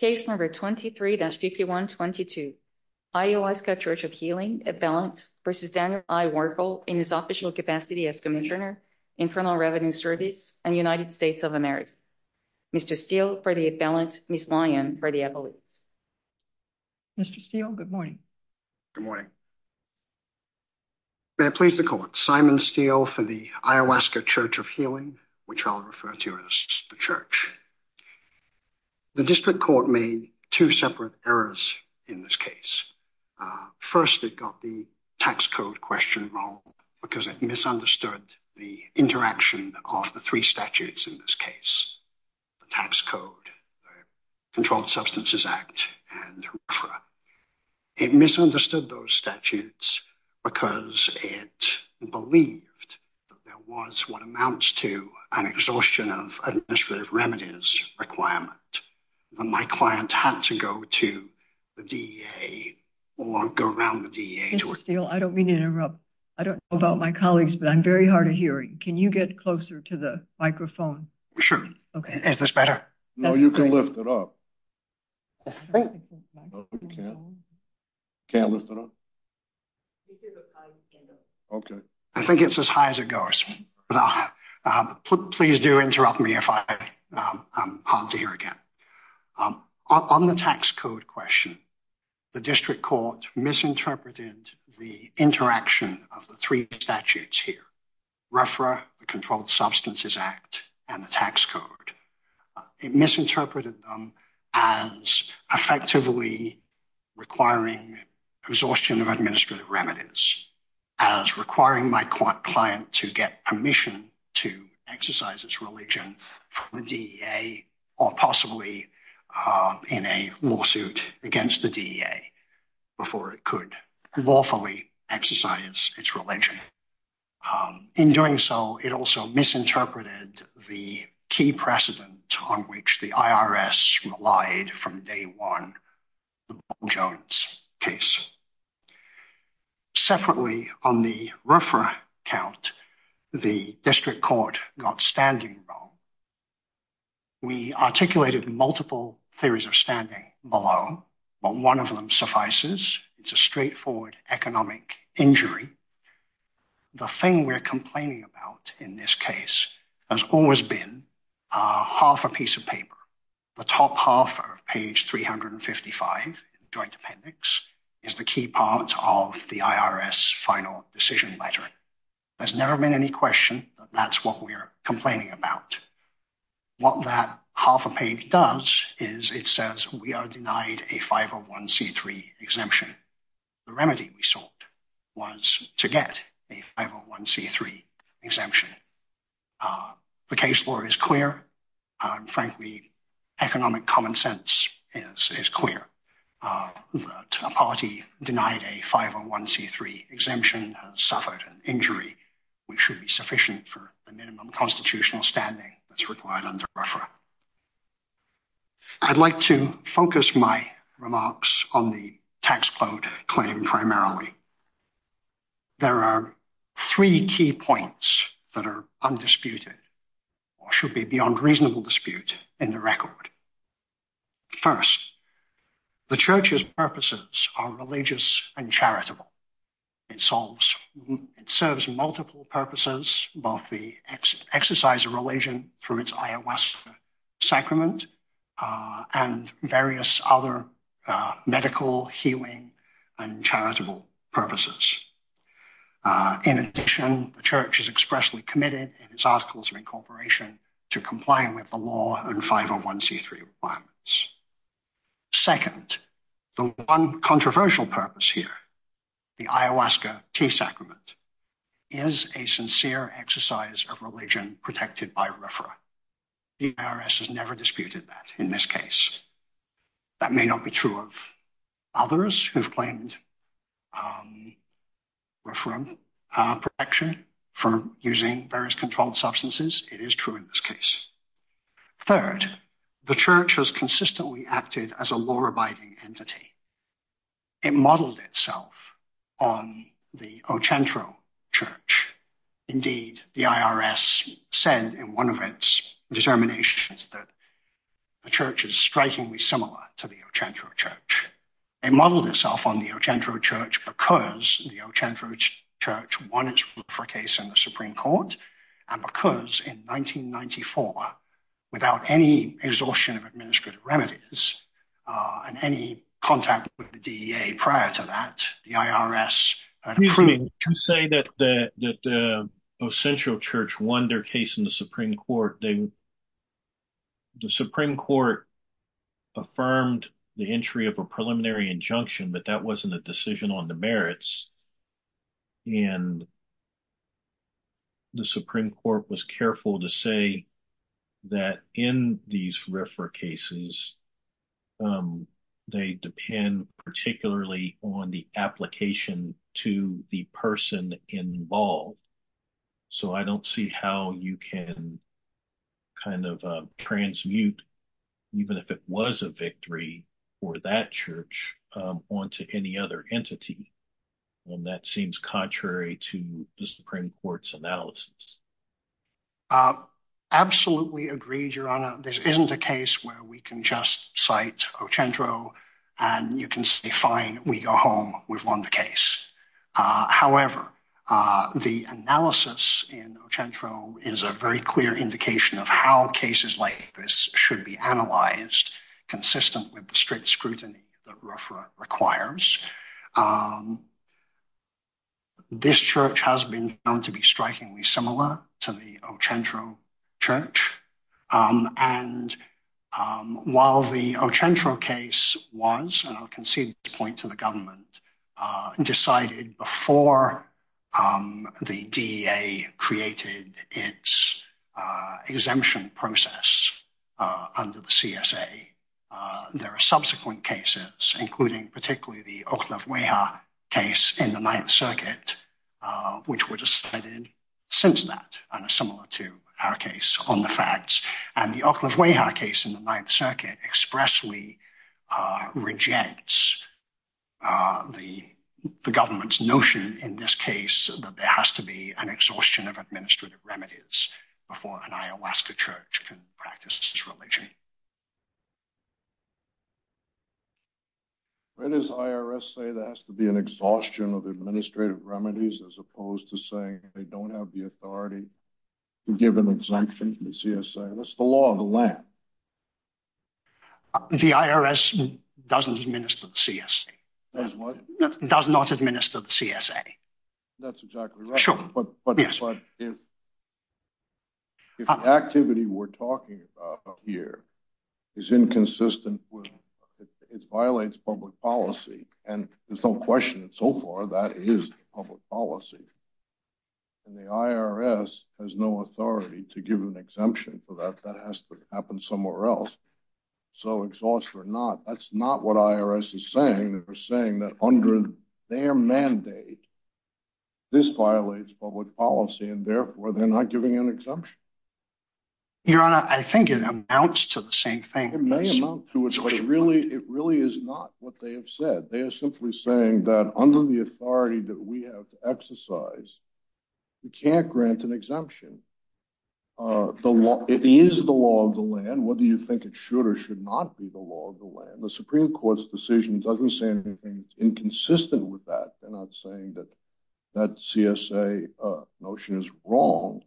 Case number 23-5122, Iowaska Church of Healing, at balance, v. Daniel I. Werfel, in his official capacity as Commissioner, Infernal Revenue Service, and United States of America. Mr. Steele, for the at balance, Ms. Lyon, for the evidence. Mr. Steele, good morning. Good morning. May I please the court, Simon Steele for the Iowaska Church of Healing, which I'll refer to as the Church. The district court made two separate errors in this case. First, it got the tax code question wrong because it misunderstood the interaction of the three statutes in this case. The tax code, the Controlled Substances Act, and RFRA. It misunderstood those statutes because it believed that there was what amounts to an exhaustion of administrative remedies requirement. My client had to go to the DEA or go around the DEA. Mr. Steele, I don't mean to interrupt. I don't know about my colleagues, but I'm very hard of hearing. Can you get closer to the microphone? Sure. Is this better? No, you can lift it up. I think it's as high as it goes. Please do interrupt me if I'm hard to hear again. On the tax code question, the district court misinterpreted the interaction of the three statutes here, RFRA, the Controlled Substances Act, and the tax code. It misinterpreted them as effectively requiring exhaustion of administrative remedies, as requiring my client to get permission to exercise its religion from the DEA, or possibly in a lawsuit against the DEA before it could lawfully exercise its religion. In doing so, it also misinterpreted the key precedent on which the IRS relied from day one, the Bob Jones case. Separately, on the RFRA count, the district court got standing wrong. We articulated multiple theories of standing below, but one of them suffices. It's a straightforward economic injury. The thing we're complaining about in this case has always been half a piece of paper. The top half of page 355 in the joint appendix is the key part of the IRS final decision letter. There's never been any question that that's what we're complaining about. What that half a page does is it says we are denied a 501c3 exemption. The remedy we sought was to get a 501c3 exemption. The case law is clear. Frankly, economic common sense is clear. A party denied a 501c3 exemption has suffered an injury which should be sufficient for the minimum constitutional standing that's required under RFRA. I'd like to focus my remarks on the tax code claim primarily. There are three key points that are undisputed or should be beyond reasonable dispute in the record. First, the church's purposes are religious and charitable. It serves multiple purposes, both the exercise of religion through its ayahuasca sacrament and various other medical, healing, and charitable purposes. In addition, the church is expressly committed in its articles of incorporation to comply with the law and 501c3 requirements. Second, the one controversial purpose here, the ayahuasca tea sacrament, is a sincere exercise of religion protected by RFRA. The IRS has never disputed that in this case. That may not be true of others who have claimed RFRA protection for using various controlled substances. It is true in this case. Third, the church has consistently acted as a law-abiding entity. It modeled itself on the Ochantro Church. Indeed, the IRS said in one of its determinations that the church is strikingly similar to the Ochantro Church. It modeled itself on the Ochantro Church because the Ochantro Church wanted to look for a case in the Supreme Court, and because in 1994, without any exhaustion of administrative remedies and any contact with the DEA prior to that, the IRS had approved... To say that the Ochantro Church won their case in the Supreme Court, the Supreme Court affirmed the entry of a preliminary injunction, but that wasn't a decision on the merits. The Supreme Court was careful to say that in these RFRA cases, they depend particularly on the application to the person involved. I don't see how you can transmute, even if it was a victory for that church, onto any other entity. That seems contrary to the Supreme Court's analysis. Absolutely agreed, Your Honor. This isn't a case where we can just cite Ochantro and you can say, fine, we go home. We've won the case. However, the analysis in Ochantro is a very clear indication of how cases like this should be analyzed, consistent with the strict scrutiny that RFRA requires. This church has been known to be strikingly similar to the Ochantro Church, and while the Ochantro case was, and I'll concede this point to the government, decided before the DEA created its exemption process under the CSA, there are subsequent cases, including particularly the Oklavweha case in the Ninth Circuit, which were decided since that, and are similar to our case on the facts. And the Oklavweha case in the Ninth Circuit expressly rejects the government's notion in this case that there has to be an exhaustion of administrative remedies before an Ayahuasca church can practice its religion. Where does the IRS say there has to be an exhaustion of administrative remedies as opposed to saying they don't have the authority to give an exemption in the CSA? That's the law of the land. The IRS doesn't administer the CSA. Does what? Does not administer the CSA. That's exactly right. Sure. But if the activity we're talking about here is inconsistent, it violates public policy, and there's no question so far that is public policy. And the IRS has no authority to give an exemption for that. That has to happen somewhere else. So exhaustion or not, that's not what IRS is saying. They're saying that under their mandate, this violates public policy, and therefore they're not giving an exemption. Your Honor, I think it amounts to the same thing. It may amount to it, but it really is not what they have said. They are simply saying that under the authority that we have to exercise, we can't grant an exemption. It is the law of the land, whether you think it should or should not be the law of the land. The Supreme Court's decision doesn't say anything inconsistent with that. They're not saying that that CSA notion is wrong.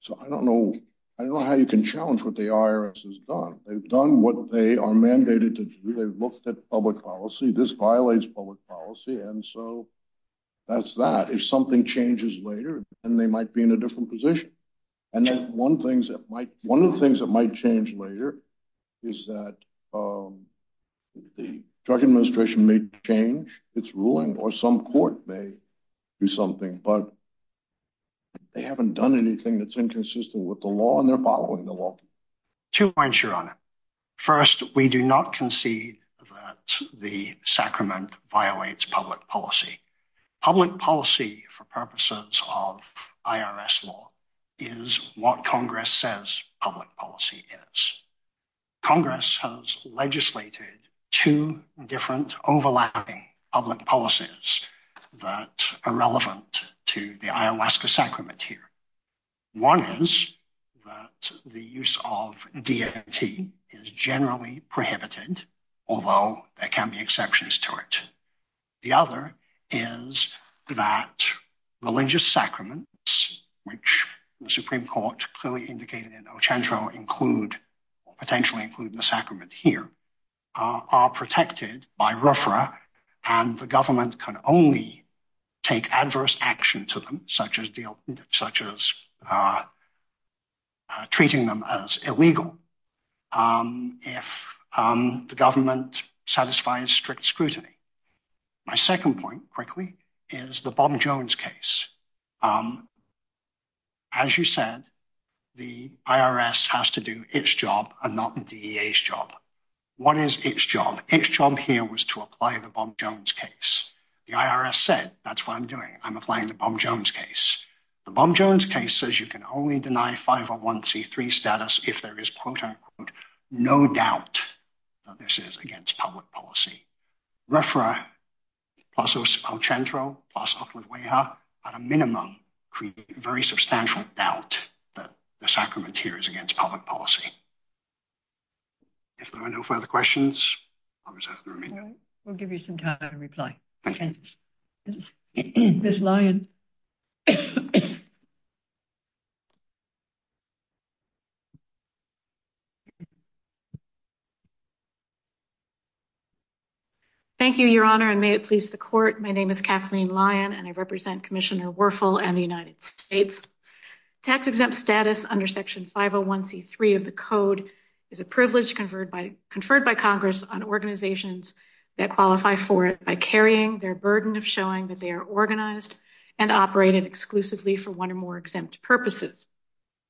So I don't know how you can challenge what the IRS has done. They've done what they are mandated to do. They've looked at public policy. This violates public policy, and so that's that. If something changes later, then they might be in a different position. One of the things that might change later is that the Judicial Administration may change its ruling, or some court may do something, but they haven't done anything that's inconsistent with the law, and they're following the law. Two points, Your Honor. First, we do not concede that the sacrament violates public policy. Public policy, for purposes of IRS law, is what Congress says public policy is. Congress has legislated two different overlapping public policies that are relevant to the Ayahuasca sacrament here. One is that the use of DMT is generally prohibited, although there can be exceptions to it. The other is that religious sacraments, which the Supreme Court clearly indicated in El Centro include, or potentially include in the sacrament here, are protected by RFRA, and the government can only take adverse action to them, such as treating them as illegal, if the government satisfies strict scrutiny. My second point, quickly, is the Bob Jones case. As you said, the IRS has to do its job and not the DEA's job. What is its job? Its job here was to apply the Bob Jones case. The IRS said, that's what I'm doing. I'm applying the Bob Jones case. The Bob Jones case says you can only deny 501c3 status if there is, quote-unquote, no doubt that this is against public policy. RFRA, plus El Centro, plus Upland Weha, at a minimum create a very substantial doubt that the sacrament here is against public policy. If there are no further questions, I'll reserve the remaining. We'll give you some time to reply. Thank you. Ms. Lyon. Thank you, Your Honor, and may it please the court. My name is Kathleen Lyon, and I represent Commissioner Werfel and the United States. Tax-exempt status under Section 501c3 of the code is a privilege conferred by Congress on organizations that qualify for it by carrying their burden of showing that they are organized and operated exclusively for one or more exempt purposes.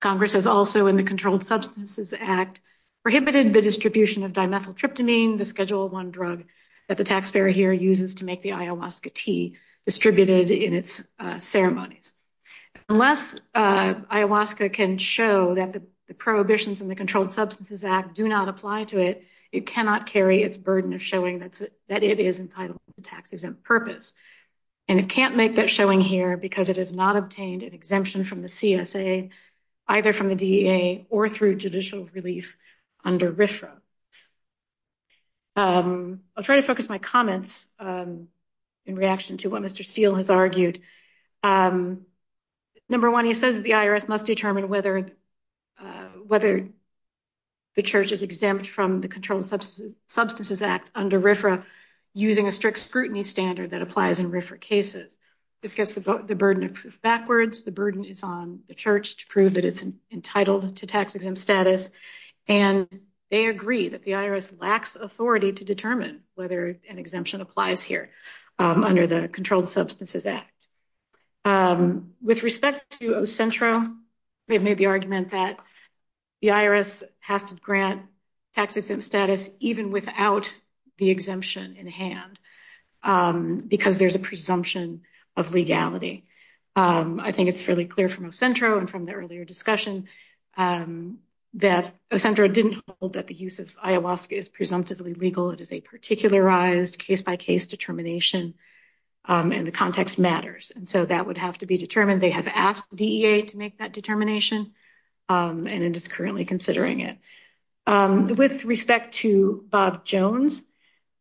Congress has also, in the Controlled Substances Act, prohibited the distribution of dimethyltryptamine, the Schedule I drug that the taxpayer here uses to make the ayahuasca tea distributed in its ceremonies. Unless ayahuasca can show that the prohibitions in the Controlled Substances Act apply to it, it cannot carry its burden of showing that it is entitled to tax-exempt purpose. And it can't make that showing here because it has not obtained an exemption from the CSA, either from the DEA, or through judicial relief under RFRA. I'll try to focus my comments in reaction to what Mr. Steele has argued. Number one, he says the IRS must determine whether the church is exempt from the Controlled Substances Act under RFRA using a strict scrutiny standard that applies in RFRA cases. This gets the burden of proof backwards. The burden is on the church to prove that it's entitled to tax-exempt status. And they agree that the IRS lacks authority to determine whether an exemption applies here under the Controlled Substances Act. With respect to Ocentro, they've made the argument that the IRS has to grant tax-exempt status even without the exemption in hand because there's a presumption of legality. I think it's fairly clear from Ocentro and from the earlier discussion that Ocentro didn't hold that the use of ayahuasca is presumptively legal. It is a particularized case-by-case determination, and the context matters. And so that would have to be determined. They have asked DEA to make that determination, and it is currently considering it. With respect to Bob Jones,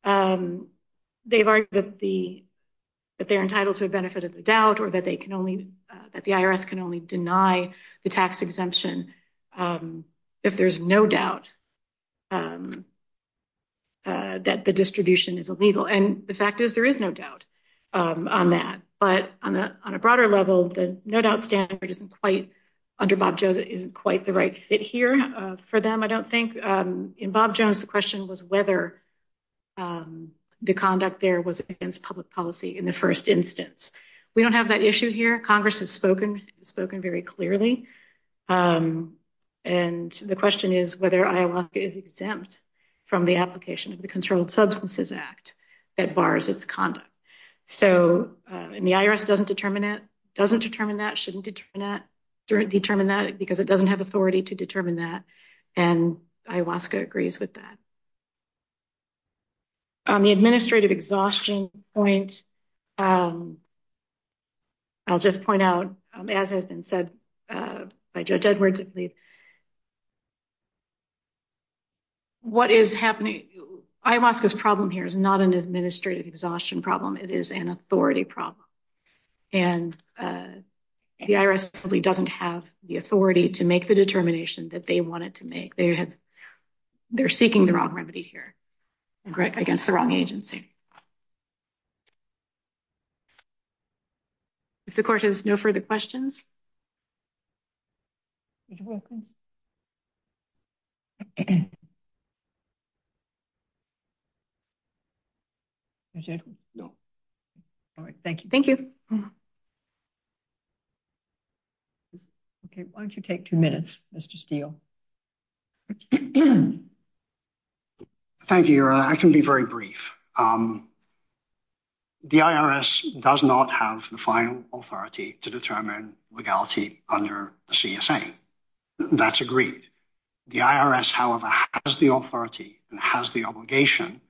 they've argued that they're entitled to a benefit of the doubt or that the IRS can only deny the tax exemption if there's no doubt that the distribution is illegal. And the fact is there is no doubt on that. But on a broader level, the no-doubt standard under Bob Jones isn't quite the right fit here for them. I don't think in Bob Jones the question was whether the conduct there was against public policy in the first instance. We don't have that issue here. Congress has spoken very clearly, and the question is whether ayahuasca is exempt from the application of the Controlled Substances Act that bars its conduct. So the IRS doesn't determine that, shouldn't determine that because it doesn't have authority to determine that, and ayahuasca agrees with that. On the administrative exhaustion point, I'll just point out, as has been said by Judge Edwards, what is happening, ayahuasca's problem here is not an administrative exhaustion problem. It is an authority problem. And the IRS simply doesn't have the authority to make the determination that they wanted to make. They're seeking the wrong remedy here against the wrong agency. If the Court has no further questions. All right. Thank you. Thank you. Okay. Why don't you take two minutes, Mr. Steele? Thank you, Your Honor. I can be very brief. The IRS does not have the final authority to determine whether or not a person has a legal liability under the CSA. That's agreed. The IRS, however, has the authority and has the obligation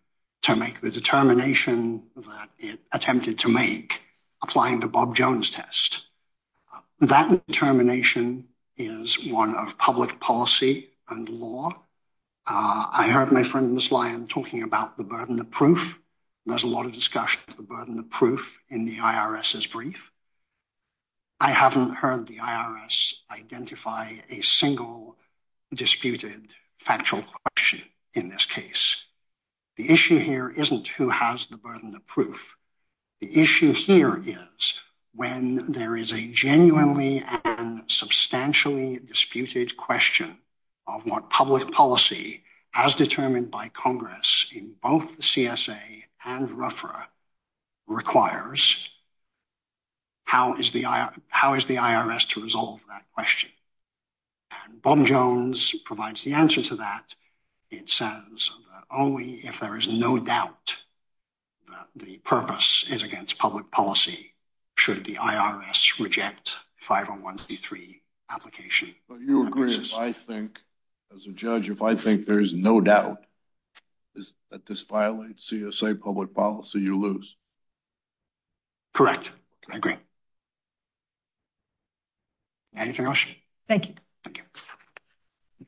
to make the determination that it attempted to make applying the Bob Jones test. That determination is one of public policy and law. I heard my friend Ms. Lyon talking about the burden of proof. There's a lot of discussion of the burden of proof in the IRS's brief. I haven't heard the IRS identify a single disputed factual question in this case. The issue here isn't who has the burden of proof. The issue here is when there is a genuinely and substantially disputed question of what public policy as determined by Congress in both the CSA and RFRA requires, how is the IRS to resolve that question? And Bob Jones provides the answer to that. It says that only if there is no doubt that the purpose is against public policy should the IRS reject 50133 application. But you agree, as a judge, if I think there is no doubt that this violates CSA public policy, you lose. Correct. I agree. Anything else? Thank you. Thank you.